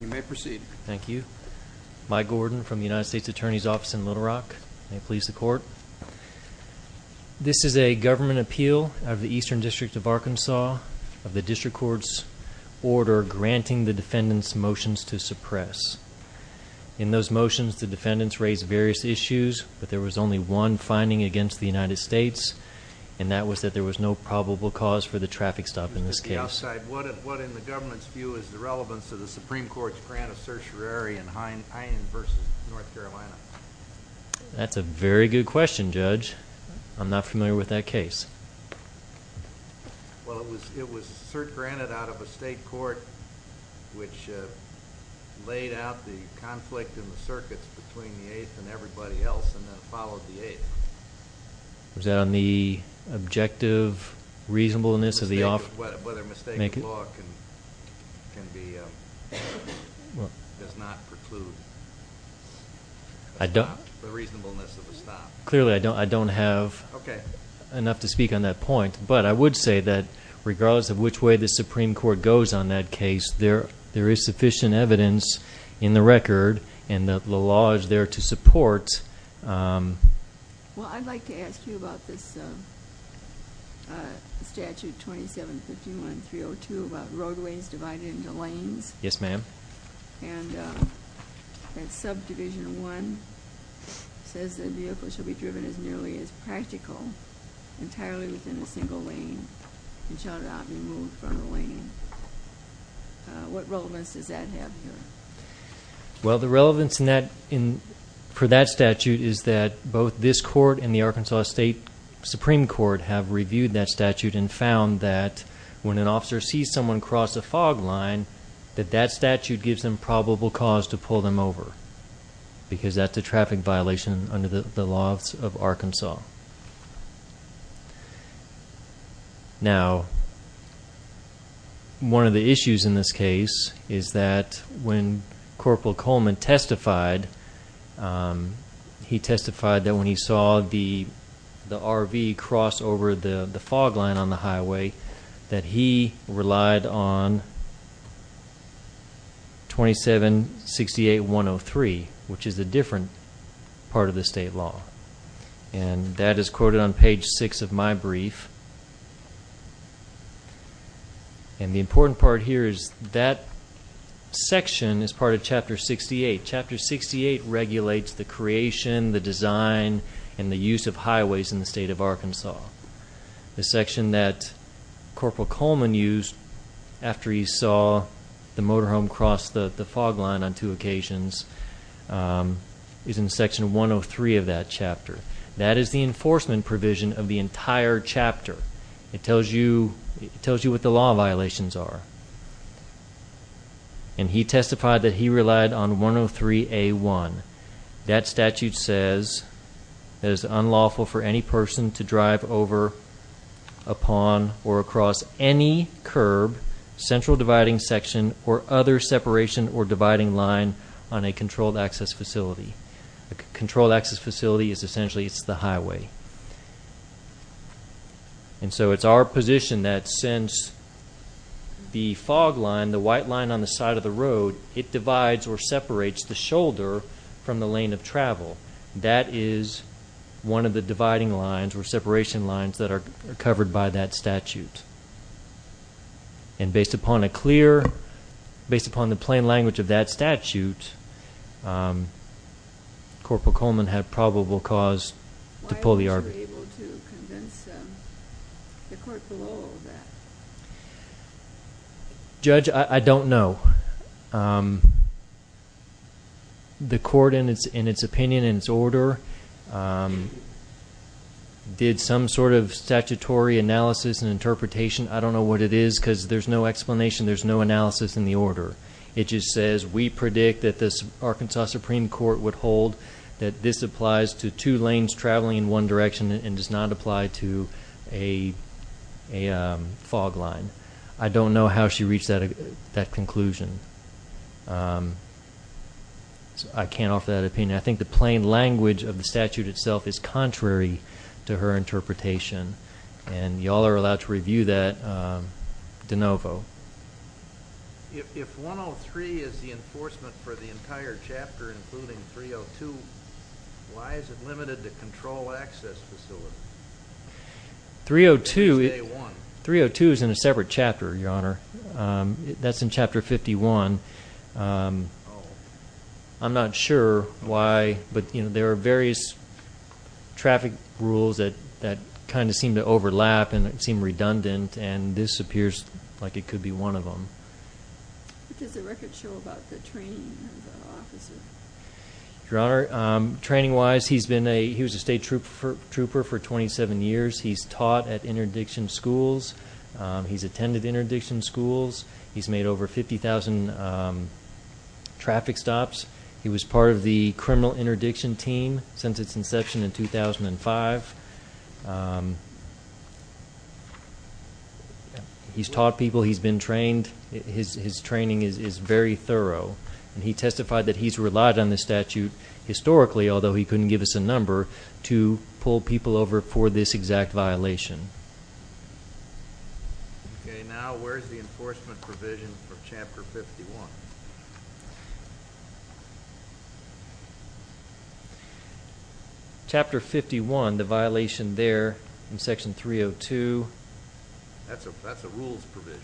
You may proceed. Thank you. Mike Gordon from the United States Attorney's Office in Little Rock. May it please the Court. This is a government appeal of the Eastern District of Arkansas of the District Court's order granting the defendants motions to suppress. In those motions, the defendants raised various issues, but there was only one finding against the United States, and that was that there was no probable cause for the traffic stop in this case. What, in the government's view, is the relevance of the Supreme Court's grant of certiorari in Heinen v. North Carolina? That's a very good question, Judge. I'm not familiar with that case. Well, it was cert granted out of a state court which laid out the conflict in the circuits between the Eighth and everybody else and then followed the Eighth. Was that on the objective reasonableness of the offer? Whether mistaken law can be, does not preclude the reasonableness of a stop. Clearly, I don't have enough to speak on that point, but I would say that regardless of which way the Supreme Court goes on that case, there is sufficient evidence in the record and the law is there to support. Well, I'd like to ask you about this Statute 2751.302 about roadways divided into lanes. Yes, ma'am. And that Subdivision 1 says that vehicles should be driven as nearly as practical, entirely within a single lane and shall not be moved from the lane. What relevance does that have here? Well, the relevance for that statute is that both this court and the Arkansas State Supreme Court have reviewed that statute and found that when an officer sees someone cross a fog line, that that statute gives them probable cause to pull them over because that's a traffic violation under the laws of Arkansas. Now, one of the issues in this case is that when Corporal Coleman testified, he testified that when he saw the RV cross over the fog line on the highway, that he relied on 2768.103, which is a different part of the state law. And that is quoted on page 6 of my brief. And the important part here is that section is part of Chapter 68. Chapter 68 regulates the creation, the design, and the use of highways in the state of Arkansas. The section that Corporal Coleman used after he saw the motorhome cross the fog line on two occasions is in Section 103 of that chapter. That is the enforcement provision of the entire chapter. It tells you what the law violations are. And he testified that he relied on 103A1. That statute says it is unlawful for any person to drive over, upon, or across any curb, central dividing section, or other separation or dividing line on a controlled access facility. A controlled access facility is essentially the highway. And so it's our position that since the fog line, the white line on the side of the road, it divides or separates the shoulder from the lane of travel. That is one of the dividing lines or separation lines that are covered by that statute. And based upon the plain language of that statute, Corporal Coleman had probable cause to pull the argument. Why weren't you able to convince the court below that? Judge, I don't know. The court, in its opinion and its order, did some sort of statutory analysis and interpretation. I don't know what it is, because there's no explanation. There's no analysis in the order. It just says, we predict that the Arkansas Supreme Court would hold that this applies to two lanes traveling in one direction and does not apply to a fog line. I don't know how she reached that conclusion. I can't offer that opinion. I think the plain language of the statute itself is contrary to her interpretation. And you all are allowed to review that de novo. If 103 is the enforcement for the entire chapter, including 302, why is it limited to control access facilities? 302 is in a separate chapter, Your Honor. That's in Chapter 51. Oh. What does the record show about the training of the officers? Traffic stops. He was part of the criminal interdiction team since its inception in 2005. He's taught people. He's been trained. His training is very thorough. And he testified that he's relied on this statute historically, although he couldn't give us a number, to pull people over for this exact violation. Okay. Now where's the enforcement provision for Chapter 51? Chapter 51, the violation there in Section 302. That's a rules provision.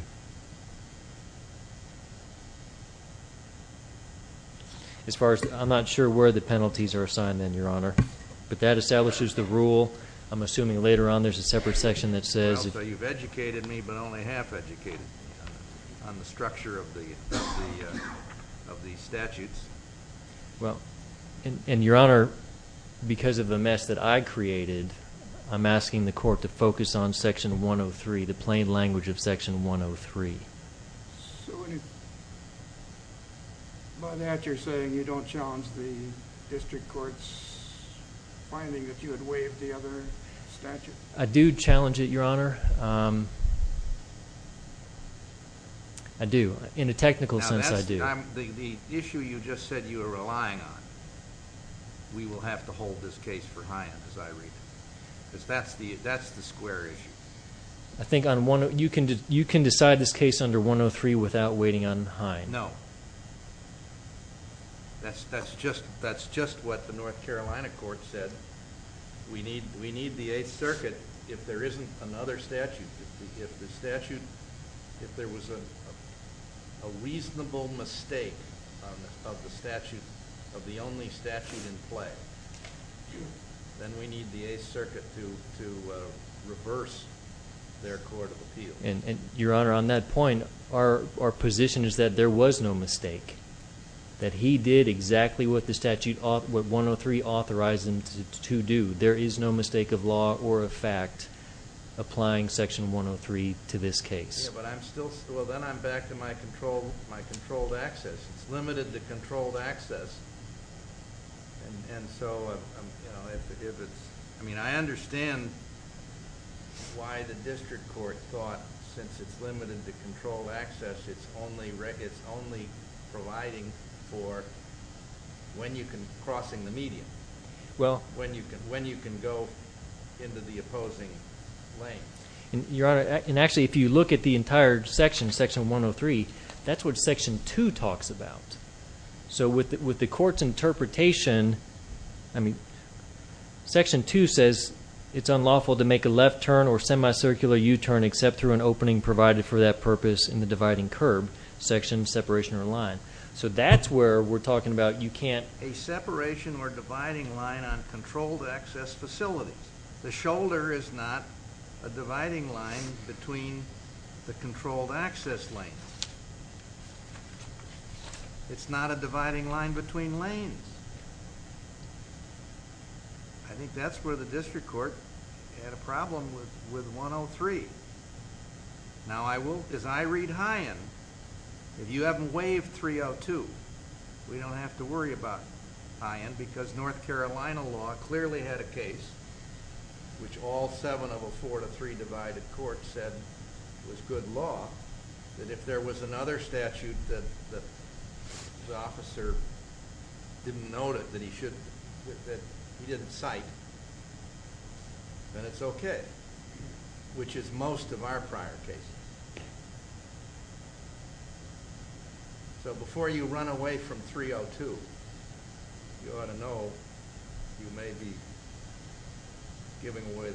I'm not sure where the penalties are assigned then, Your Honor. But that establishes the rule. I'm assuming later on there's a separate section that says... Well, so you've educated me, but only half educated me on the structure of the statutes. Well, and, Your Honor, because of the mess that I created, I'm asking the Court to focus on Section 103, the plain language of Section 103. By that, you're saying you don't challenge the district court's finding that you had waived the other statute? I do challenge it, Your Honor. I do. In a technical sense, I do. Now, the issue you just said you were relying on, we will have to hold this case for Hine, as I read it. Because that's the square issue. I think you can decide this case under 103 without waiting on Hine. No. That's just what the North Carolina court said. We need the Eighth Circuit if there isn't another statute. If there was a reasonable mistake of the only statute in play, then we need the Eighth Circuit to reverse their court of appeal. Your Honor, on that point, our position is that there was no mistake, that he did exactly what 103 authorized him to do. There is no mistake of law or of fact applying Section 103 to this case. Then I'm back to my controlled access. It's limited to controlled access. I understand why the district court thought, since it's limited to controlled access, it's only providing for crossing the median, when you can go into the opposing lane. Actually, if you look at the entire section, Section 103, that's what Section 2 talks about. With the court's interpretation, Section 2 says it's unlawful to make a left turn or semicircular U-turn except through an opening provided for that purpose in the dividing curb, section, separation, or line. That's where we're talking about you can't. A separation or dividing line on controlled access facilities. The shoulder is not a dividing line between the controlled access lane. It's not a dividing line between lanes. I think that's where the district court had a problem with 103. As I read High End, if you haven't waived 302, we don't have to worry about High End because North Carolina law clearly had a case which all seven of a four to three divided court said was good law, that if there was another statute that the officer didn't note it, that he didn't cite, then it's okay, which is most of our prior cases. Before you run away from 302, you ought to know you may be giving away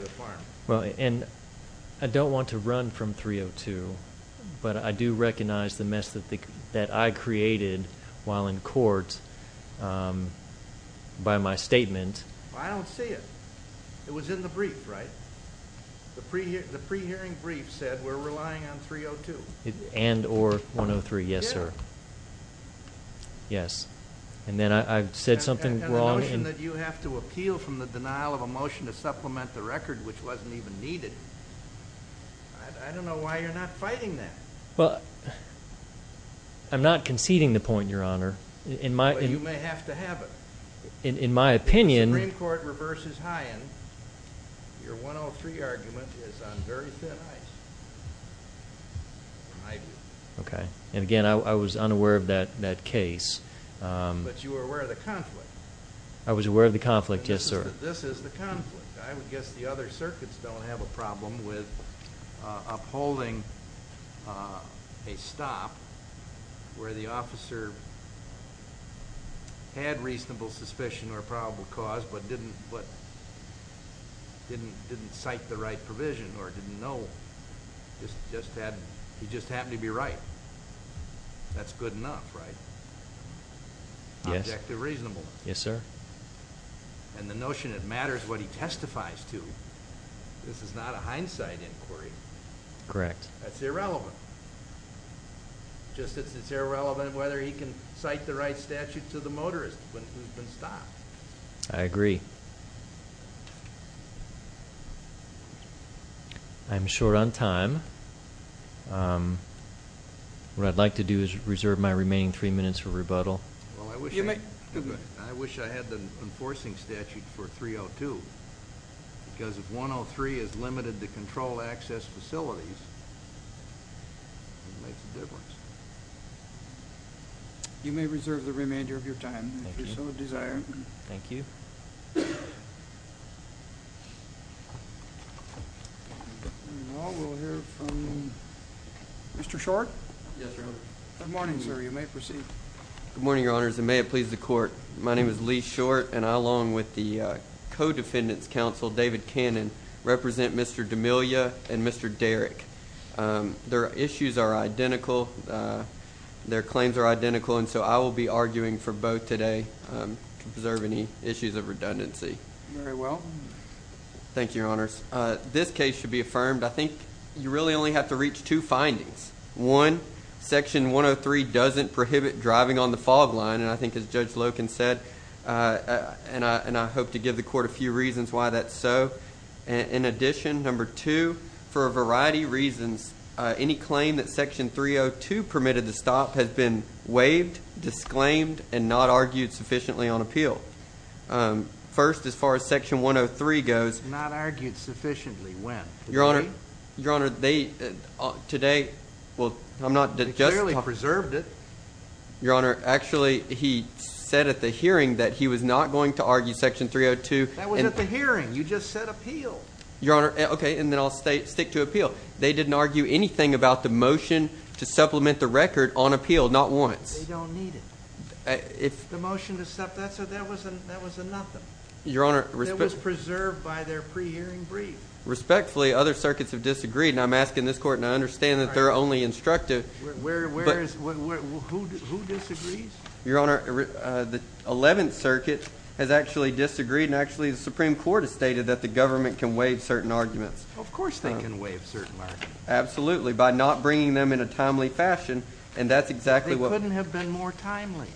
the farm. I don't want to run from 302, but I do recognize the mess that I created while in court by my statement. I don't see it. It was in the brief, right? The pre-hearing brief said we're relying on 302. And or 103, yes, sir. Yes. And then I said something wrong. The motion that you have to appeal from the denial of a motion to supplement the record, which wasn't even needed, I don't know why you're not fighting that. Well, I'm not conceding the point, Your Honor. Well, you may have to have it. In my opinion. Supreme Court reverses High End. Your 103 argument is on very thin ice. Okay. And, again, I was unaware of that case. But you were aware of the conflict. I was aware of the conflict, yes, sir. This is the conflict. I would guess the other circuits don't have a problem with upholding a stop where the officer had reasonable suspicion or probable cause but didn't cite the right provision or didn't know. He just happened to be right. That's good enough, right? Objective reasonableness. Yes, sir. And the notion it matters what he testifies to, this is not a hindsight inquiry. Correct. That's irrelevant. Just as it's irrelevant whether he can cite the right statute to the motorist who's been stopped. I agree. I'm short on time. What I'd like to do is reserve my remaining three minutes for rebuttal. I wish I had the enforcing statute for 302 because if 103 is limited to control access facilities, it makes a difference. You may reserve the remainder of your time if you so desire. Thank you. Thank you. We'll hear from Mr. Short. Yes, Your Honor. Good morning, sir. You may proceed. Good morning, Your Honors, and may it please the Court. My name is Lee Short, and I, along with the co-defendant's counsel, David Cannon, represent Mr. D'Amelio and Mr. Derrick. Their issues are identical. Their claims are identical, and so I will be arguing for both today to preserve any issues of redundancy. Very well. Thank you, Your Honors. This case should be affirmed. I think you really only have to reach two findings. One, Section 103 doesn't prohibit driving on the fog line, and I think as Judge Loken said, and I hope to give the Court a few reasons why that's so. In addition, number two, for a variety of reasons, any claim that Section 302 permitted the stop has been waived, disclaimed, and not argued sufficiently on appeal. First, as far as Section 103 goes. Not argued sufficiently. When? Today? Your Honor, they, today, well, I'm not. They clearly preserved it. Your Honor, actually, he said at the hearing that he was not going to argue Section 302. That was at the hearing. You just said appeal. Your Honor, okay, and then I'll stick to appeal. They didn't argue anything about the motion to supplement the record on appeal, not once. They don't need it. The motion to stop that, so that was a nothing. That was preserved by their pre-hearing brief. Respectfully, other circuits have disagreed, and I'm asking this Court, and I understand that they're only instructive. Where is, who disagrees? Your Honor, the Eleventh Circuit has actually disagreed, and actually the Supreme Court has stated that the government can waive certain arguments. Of course they can waive certain arguments. Absolutely, by not bringing them in a timely fashion, and that's exactly what. They couldn't have been more timely.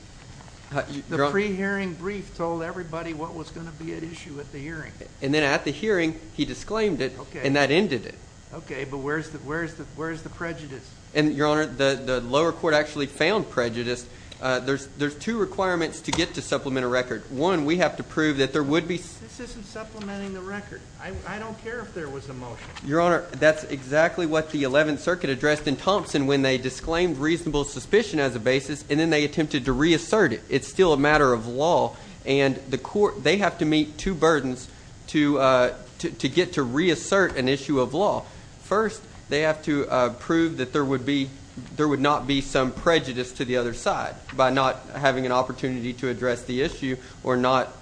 The pre-hearing brief told everybody what was going to be at issue at the hearing. And then at the hearing, he disclaimed it, and that ended it. Okay, but where is the prejudice? Your Honor, the lower court actually found prejudice. There's two requirements to get to supplement a record. One, we have to prove that there would be. This isn't supplementing the record. I don't care if there was a motion. Your Honor, that's exactly what the Eleventh Circuit addressed in Thompson when they disclaimed reasonable suspicion as a basis, and then they attempted to reassert it. It's still a matter of law, and they have to meet two burdens to get to reassert an issue of law. First, they have to prove that there would not be some prejudice to the other side by not having an opportunity to address the issue or not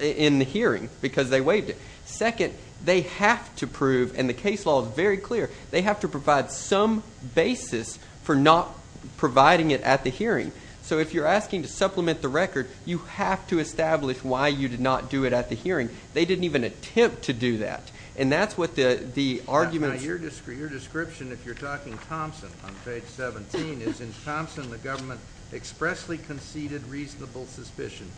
in the hearing because they waived it. Second, they have to prove, and the case law is very clear, they have to provide some basis for not providing it at the hearing. So if you're asking to supplement the record, you have to establish why you did not do it at the hearing. They didn't even attempt to do that, and that's what the argument is. Your description, if you're talking Thompson on page 17, is in Thompson, the government expressly conceded reasonable suspicion,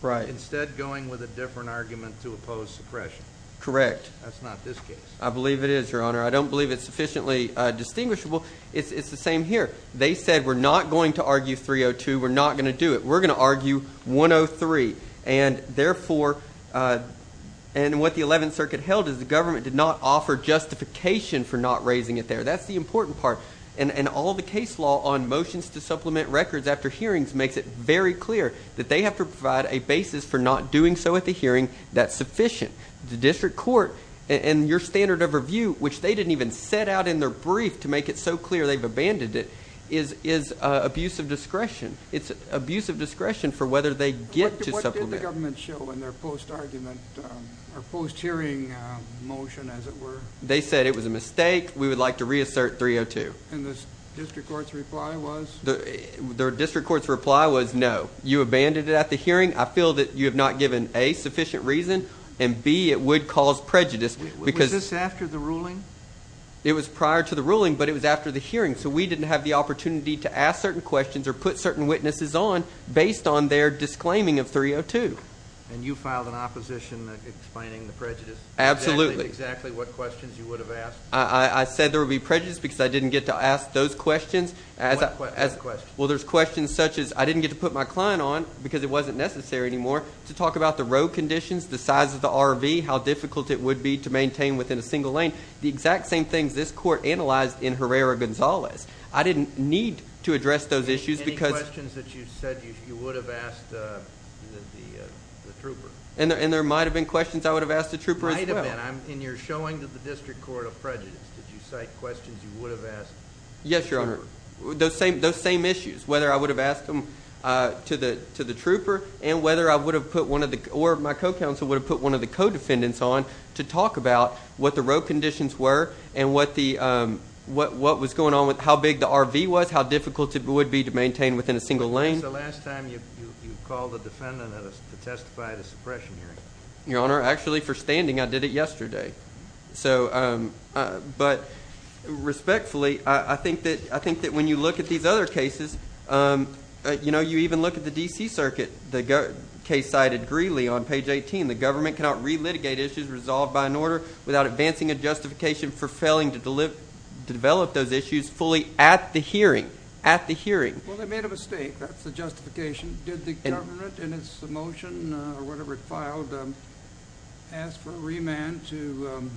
but instead going with a different argument to oppose suppression. Correct. That's not this case. I believe it is, Your Honor. I don't believe it's sufficiently distinguishable. It's the same here. They said we're not going to argue 302, we're not going to do it. We're going to argue 103, and therefore, and what the Eleventh Circuit held is the government did not offer justification for not raising it there. That's the important part. And all the case law on motions to supplement records after hearings makes it very clear that they have to provide a basis for not doing so at the hearing that's sufficient. The district court and your standard of review, which they didn't even set out in their brief to make it so clear they've abandoned it, is abuse of discretion. It's abuse of discretion for whether they get to supplement. What did the government show in their post-argument or post-hearing motion, as it were? They said it was a mistake. We would like to reassert 302. And the district court's reply was? The district court's reply was no. You abandoned it at the hearing. I feel that you have not given, A, sufficient reason, and, B, it would cause prejudice. Was this after the ruling? It was prior to the ruling, but it was after the hearing, so we didn't have the opportunity to ask certain questions or put certain witnesses on based on their disclaiming of 302. And you filed an opposition explaining the prejudice? Absolutely. Exactly what questions you would have asked? I said there would be prejudice because I didn't get to ask those questions. What questions? Well, there's questions such as I didn't get to put my client on because it wasn't necessary anymore to talk about the road conditions, the size of the RV, how difficult it would be to maintain within a single lane, the exact same things this court analyzed in Herrera-Gonzalez. I didn't need to address those issues. Any questions that you said you would have asked the trooper? And there might have been questions I would have asked the trooper as well. Might have been. In your showing to the district court of prejudice, did you cite questions you would have asked the trooper? Yes, Your Honor. Those same issues, whether I would have asked them to the trooper or my co-counsel would have put one of the co-defendants on to talk about what the road conditions were and what was going on with how big the RV was, how difficult it would be to maintain within a single lane. When was the last time you called a defendant to testify at a suppression hearing? Your Honor, actually for standing I did it yesterday. But respectfully, I think that when you look at these other cases, you even look at the D.C. Circuit. The case cited greedily on page 18. The government cannot re-litigate issues resolved by an order without advancing a justification for failing to develop those issues fully at the hearing. At the hearing. Well, they made a mistake. That's the justification. Did the government in its motion or whatever it filed ask for a remand to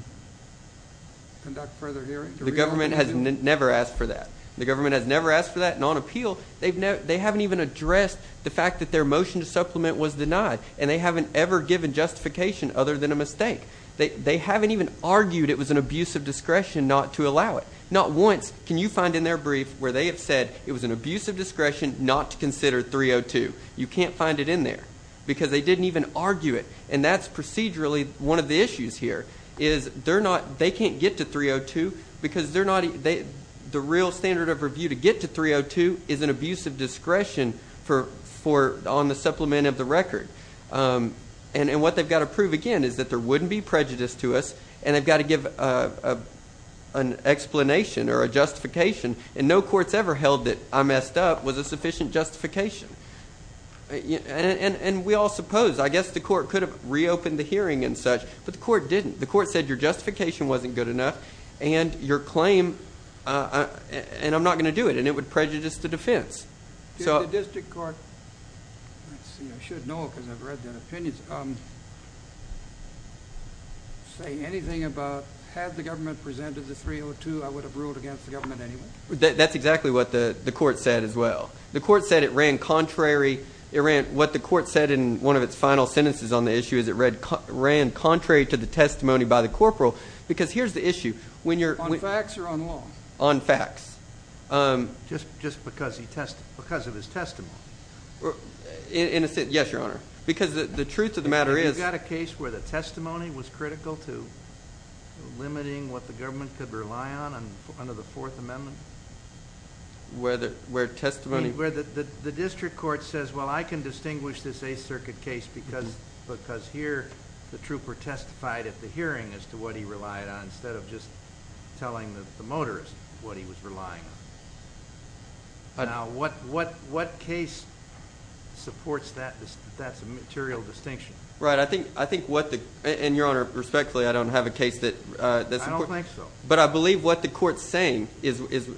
conduct further hearing? The government has never asked for that. The government has never asked for that. And on appeal, they haven't even addressed the fact that their motion to supplement was denied. And they haven't ever given justification other than a mistake. They haven't even argued it was an abuse of discretion not to allow it. Not once can you find in their brief where they have said it was an abuse of discretion not to consider 302. You can't find it in there because they didn't even argue it. And that's procedurally one of the issues here is they can't get to 302 because the real standard of review to get to 302 is an abuse of discretion on the supplement of the record. And what they've got to prove again is that there wouldn't be prejudice to us and they've got to give an explanation or a justification. And no court's ever held that I messed up was a sufficient justification. And we all suppose. I guess the court could have reopened the hearing and such. But the court didn't. The court said your justification wasn't good enough and your claim and I'm not going to do it. And it would prejudice the defense. Did the district court say anything about had the government presented the 302, I would have ruled against the government anyway? That's exactly what the court said as well. The court said it ran contrary. What the court said in one of its final sentences on the issue is it ran contrary to the testimony by the corporal. Because here's the issue. On facts or on law? On facts. Just because of his testimony? In a sense, yes, Your Honor. Because the truth of the matter is- You got a case where the testimony was critical to limiting what the government could rely on under the Fourth Amendment? Where testimony- The district court says, well, I can distinguish this Eighth Circuit case because here the trooper testified at the hearing as to what he relied on instead of just telling the motorist what he was relying on. Now, what case supports that? That's a material distinction. Right. I think what the- And, Your Honor, respectfully, I don't have a case that- I don't think so. But I believe what the court's saying is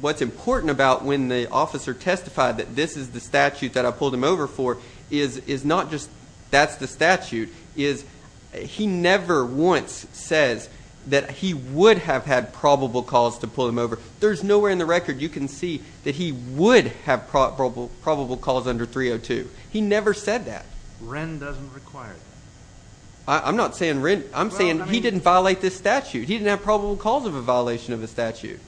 what's important about when the officer testified that this is the statute that I pulled him over for is not just that's the statute, is he never once says that he would have had probable cause to pull him over. There's nowhere in the record you can see that he would have probable cause under 302. He never said that. Wren doesn't require that. I'm not saying Wren. I'm saying he didn't violate this statute. He didn't have probable cause of a violation of the statute.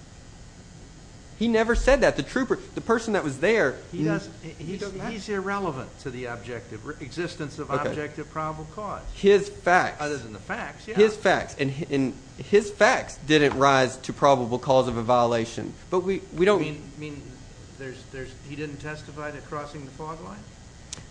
He never said that. The trooper, the person that was there- He's irrelevant to the existence of objective probable cause. His facts. Other than the facts, yeah. His facts. And his facts didn't rise to probable cause of a violation. But we don't- You mean he didn't testify to crossing the fog line?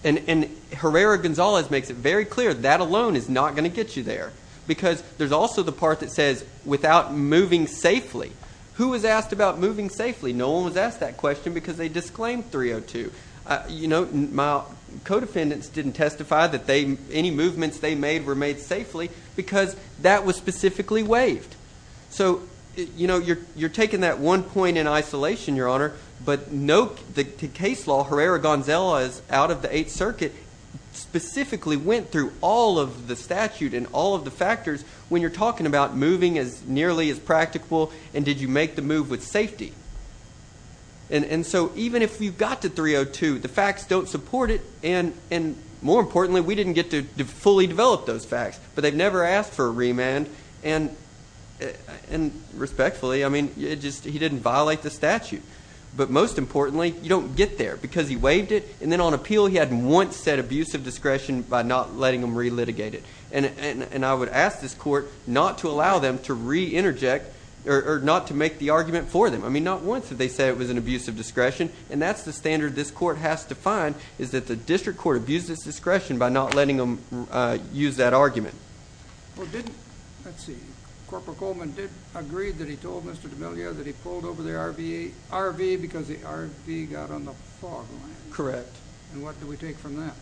And Herrera-Gonzalez makes it very clear that alone is not going to get you there because there's also the part that says without moving safely. Who was asked about moving safely? No one was asked that question because they disclaimed 302. My co-defendants didn't testify that any movements they made were made safely because that was specifically waived. So you're taking that one point in isolation, Your Honor, but the case law, Herrera-Gonzalez, out of the Eighth Circuit, specifically went through all of the statute and all of the factors when you're talking about moving as nearly as practical and did you make the move with safety. And so even if you got to 302, the facts don't support it. And more importantly, we didn't get to fully develop those facts. But they've never asked for a remand. And respectfully, I mean, he didn't violate the statute. But most importantly, you don't get there because he waived it. And then on appeal he had once said abuse of discretion by not letting them relitigate it. And I would ask this court not to allow them to reinterject or not to make the argument for them. I mean, not once did they say it was an abuse of discretion. And that's the standard this court has to find is that the district court abused its discretion by not letting them use that argument. Well, didn't, let's see, Corporal Coleman did agree that he told Mr. D'Amelio that he pulled over the RV because the RV got on the fog line. Correct. And what do we take from that?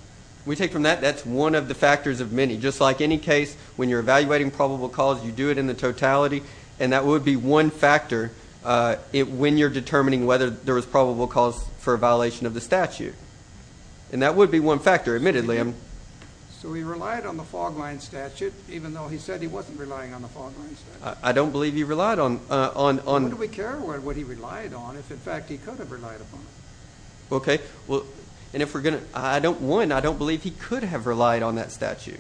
We take from that that's one of the factors of many. Just like any case, when you're evaluating probable cause, you do it in the totality. And that would be one factor when you're determining whether there was probable cause for a violation of the statute. And that would be one factor, admittedly. So he relied on the fog line statute, even though he said he wasn't relying on the fog line statute. I don't believe he relied on it. Who do we care what he relied on if, in fact, he could have relied upon it? Okay. And if we're going to, one, I don't believe he could have relied on that statute.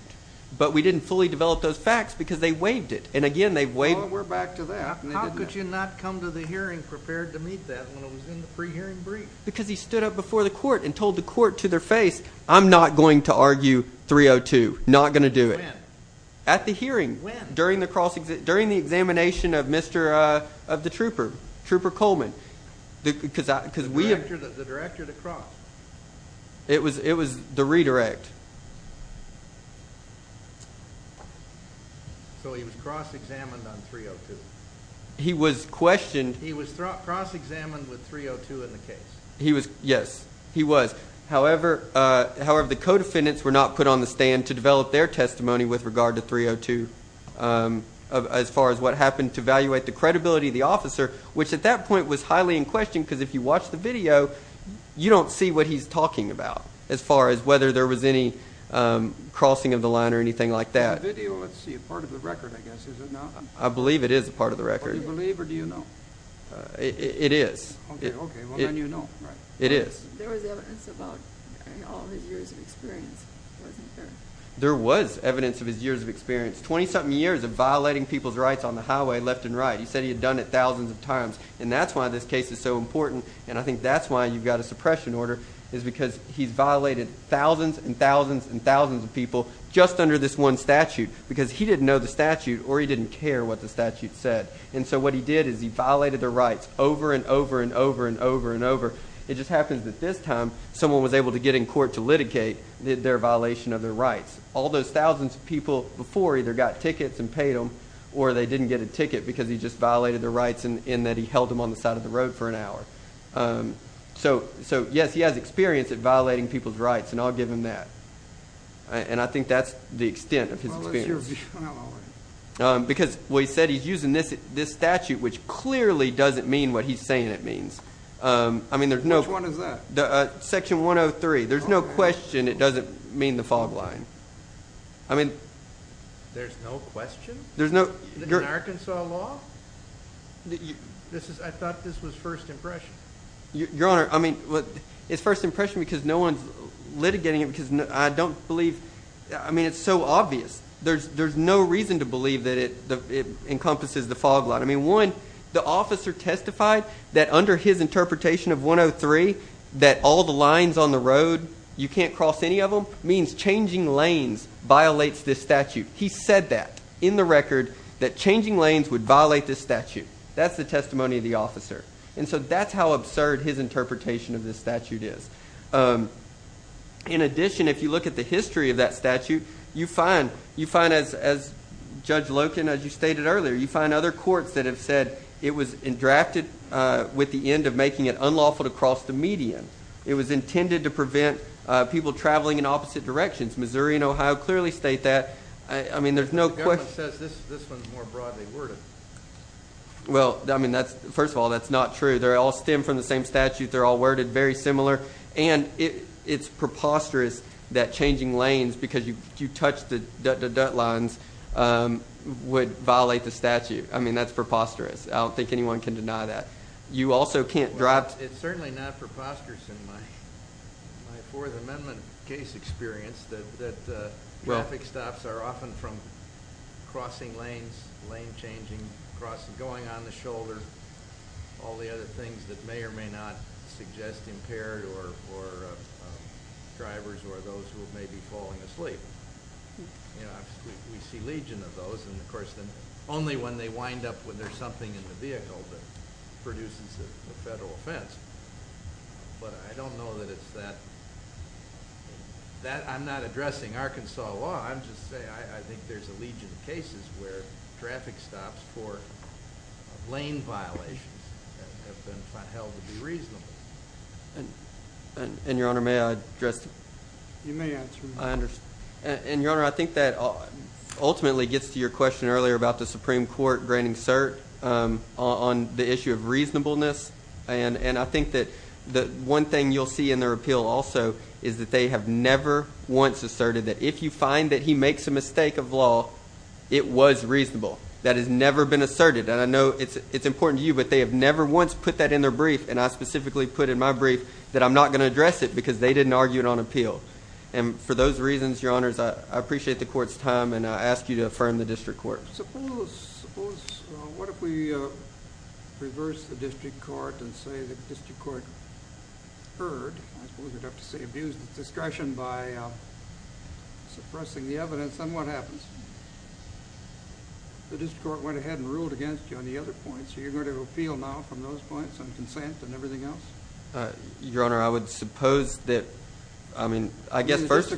But we didn't fully develop those facts because they waived it. And, again, they waived it. Well, we're back to that. How could you not come to the hearing prepared to meet that when it was in the pre-hearing brief? Because he stood up before the court and told the court to their face, I'm not going to argue 302. Not going to do it. When? At the hearing. When? During the examination of the trooper, Trooper Coleman. The director that crossed. It was the redirect. So he was cross-examined on 302. He was questioned. He was cross-examined with 302 in the case. Yes, he was. However, the co-defendants were not put on the stand to develop their testimony with regard to 302 as far as what happened to evaluate the credibility of the officer, which at that point was highly in question because if you watch the video, you don't see what he's talking about as far as whether there was any crossing of the line or anything like that. Is the video, let's see, a part of the record, I guess, is it not? I believe it is a part of the record. Do you believe or do you know? It is. Okay, well, then you know. It is. There was evidence about all his years of experience, wasn't there? There was evidence of his years of experience, 20-something years of violating people's rights on the highway left and right. He said he had done it thousands of times, and that's why this case is so important, and I think that's why you've got a suppression order, is because he's violated thousands and thousands and thousands of people just under this one statute because he didn't know the statute or he didn't care what the statute said. And so what he did is he violated the rights over and over and over and over and over. It just happens that this time someone was able to get in court to litigate their violation of their rights. All those thousands of people before either got tickets and paid them or they didn't get a ticket because he just violated their rights in that he held them on the side of the road for an hour. So, yes, he has experience at violating people's rights, and I'll give him that. And I think that's the extent of his experience. How is your view on all that? Because, well, he said he's using this statute, which clearly doesn't mean what he's saying it means. Which one is that? Section 103. There's no question it doesn't mean the fog line. There's no question? In Arkansas law? I thought this was first impression. Your Honor, I mean, it's first impression because no one's litigating it because I don't believe. I mean, it's so obvious. There's no reason to believe that it encompasses the fog line. I mean, one, the officer testified that under his interpretation of 103 that all the lines on the road, you can't cross any of them, means changing lanes violates this statute. He said that in the record, that changing lanes would violate this statute. That's the testimony of the officer. And so that's how absurd his interpretation of this statute is. In addition, if you look at the history of that statute, you find, as Judge Loken, as you stated earlier, you find other courts that have said it was drafted with the end of making it unlawful to cross the median. It was intended to prevent people traveling in opposite directions. Missouri and Ohio clearly state that. I mean, there's no question. The government says this one's more broadly worded. Well, I mean, first of all, that's not true. They all stem from the same statute. They're all worded very similar. And it's preposterous that changing lanes, because you touch the dot-dot-dot lines, would violate the statute. I mean, that's preposterous. I don't think anyone can deny that. You also can't drive to the— It's certainly not preposterous in my Fourth Amendment case experience that traffic stops are often from crossing lanes, lane changing, crossing, going on the shoulder, all the other things that may or may not suggest impaired or drivers or those who may be falling asleep. You know, we see legion of those. And, of course, only when they wind up when there's something in the vehicle that produces a federal offense. But I don't know that it's that—I'm not addressing Arkansas law. I'm just saying I think there's a legion of cases where traffic stops for lane violations have been held to be reasonable. And, Your Honor, may I address— You may answer. I understand. And, Your Honor, I think that ultimately gets to your question earlier about the Supreme Court granting cert on the issue of reasonableness. And I think that one thing you'll see in their appeal also is that they have never once asserted that if you find that he makes a mistake of law, it was reasonable. That has never been asserted. And I know it's important to you, but they have never once put that in their brief, and I specifically put in my brief, that I'm not going to address it because they didn't argue it on appeal. And for those reasons, Your Honors, I appreciate the Court's time, and I ask you to affirm the District Court. Your Honor, suppose—what if we reverse the District Court and say the District Court heard—I suppose we'd have to say abused its discretion by suppressing the evidence. Then what happens? The District Court went ahead and ruled against you on the other points. Are you going to appeal now from those points on consent and everything else? Your Honor, I would suppose that—I mean, I guess first—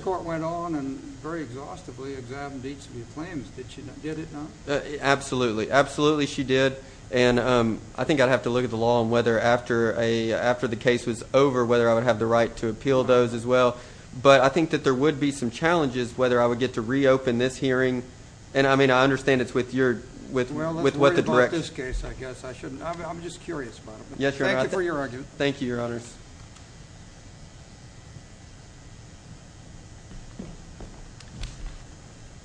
—very exhaustively examined each of your claims, did she not? Absolutely. Absolutely she did, and I think I'd have to look at the law and whether after the case was over, whether I would have the right to appeal those as well. But I think that there would be some challenges whether I would get to reopen this hearing. And, I mean, I understand it's with your— Well, let's worry about this case, I guess. I shouldn't—I'm just curious about it. Thank you for your argument. Thank you, Your Honors.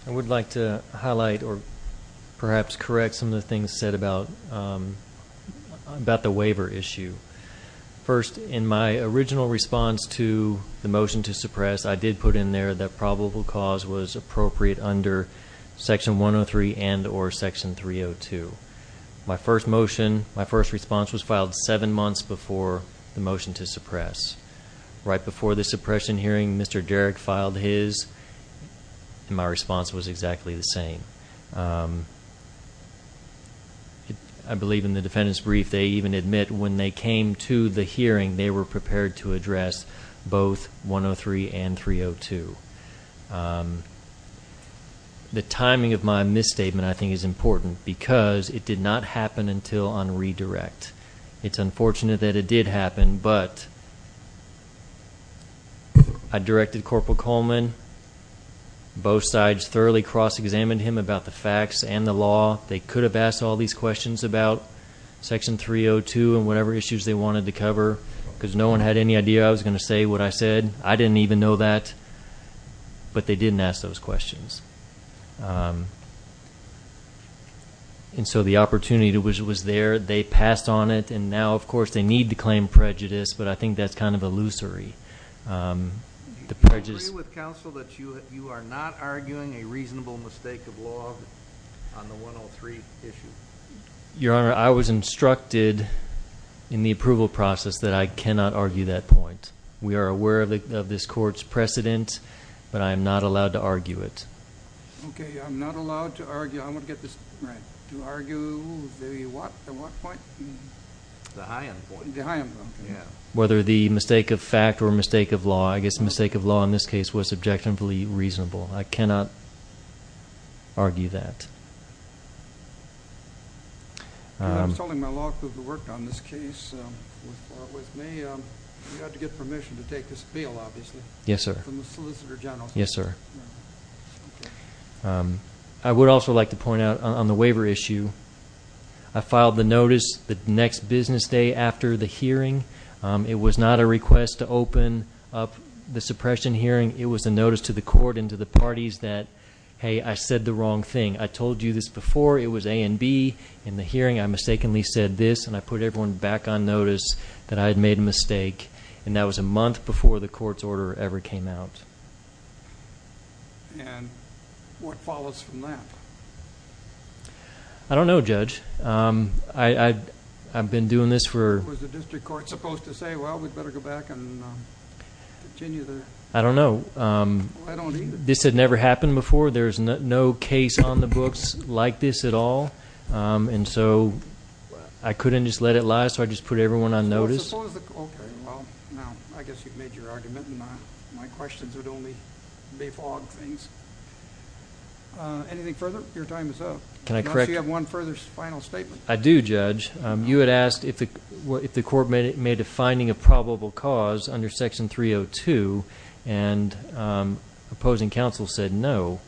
I would like to highlight or perhaps correct some of the things said about the waiver issue. First, in my original response to the motion to suppress, I did put in there that probable cause was appropriate under Section 103 and or Section 302. My first motion—my first response was filed seven months before the motion to suppress. Right before the suppression hearing, Mr. Derrick filed his, and my response was exactly the same. I believe in the defendant's brief, they even admit when they came to the hearing, they were prepared to address both 103 and 302. The timing of my misstatement, I think, is important because it did not happen until on redirect. It's unfortunate that it did happen, but I directed Corporal Coleman. Both sides thoroughly cross-examined him about the facts and the law. They could have asked all these questions about Section 302 and whatever issues they wanted to cover because no one had any idea I was going to say what I said. I didn't even know that, but they didn't ask those questions. And so the opportunity was there. They passed on it, and now, of course, they need to claim prejudice, but I think that's kind of illusory. Do you agree with counsel that you are not arguing a reasonable mistake of law on the 103 issue? Your Honor, I was instructed in the approval process that I cannot argue that point. We are aware of this Court's precedent, but I am not allowed to argue it. Okay. I'm not allowed to argue. I want to get this right. To argue the what point? The high end point. The high end point. Yeah. Whether the mistake of fact or mistake of law, I guess the mistake of law in this case was subjectively reasonable. I cannot argue that. I'm telling my law crew who worked on this case with me, you have to get permission to take this bill, obviously. Yes, sir. From the Solicitor General. Yes, sir. Okay. I would also like to point out on the waiver issue, I filed the notice the next business day after the hearing. It was not a request to open up the suppression hearing. It was a notice to the Court and to the parties that, hey, I said the wrong thing. I told you this before. It was A and B. In the hearing, I mistakenly said this, and I put everyone back on notice that I had made a mistake, and that was a month before the Court's order ever came out. And what follows from that? I don't know, Judge. I've been doing this for... Was the district court supposed to say, well, we'd better go back and continue the... I don't know. I don't either. This had never happened before. There is no case on the books like this at all, and so I couldn't just let it lie, so I just put everyone on notice. Okay. Well, now, I guess you've made your argument, and my questions would only be fog things. Anything further? Your time is up. Can I correct you? Unless you have one further final statement. I do, Judge. You had asked if the Court made a finding of probable cause under Section 302, and opposing counsel said no.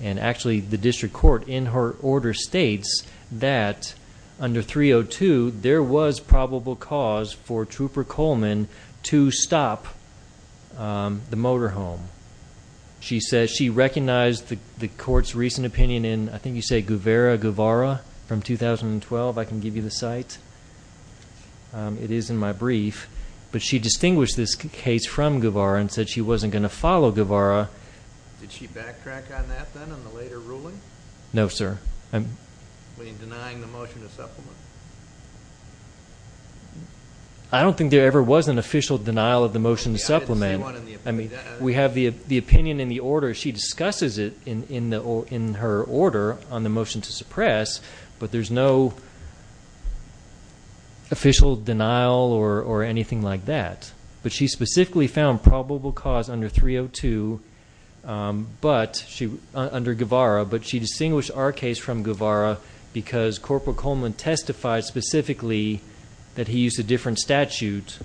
And actually, the district court, in her order, states that under 302, there was probable cause for Trooper Coleman to stop the motorhome. She says she recognized the Court's recent opinion in, I think you say, Guevara from 2012. I can give you the site. It is in my brief. But she distinguished this case from Guevara and said she wasn't going to follow Guevara. Did she backtrack on that then, on the later ruling? No, sir. In denying the motion to supplement? I don't think there ever was an official denial of the motion to supplement. I didn't see one in the... We have the opinion in the order. She discusses it in her order on the motion to suppress, but there's no official denial or anything like that. But she specifically found probable cause under 302 under Guevara, but she distinguished our case from Guevara because Corporal Coleman testified specifically that he used a different statute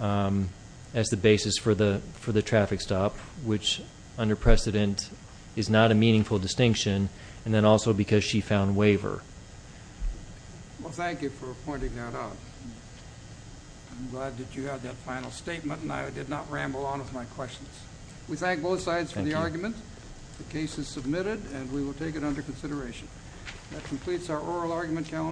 as the basis for the traffic stop, which under precedent is not a meaningful distinction, and then also because she found waiver. Well, thank you for pointing that out. I'm glad that you had that final statement, and I did not ramble on with my questions. We thank both sides for the argument. The case is submitted, and we will take it under consideration. That completes our oral argument calendar.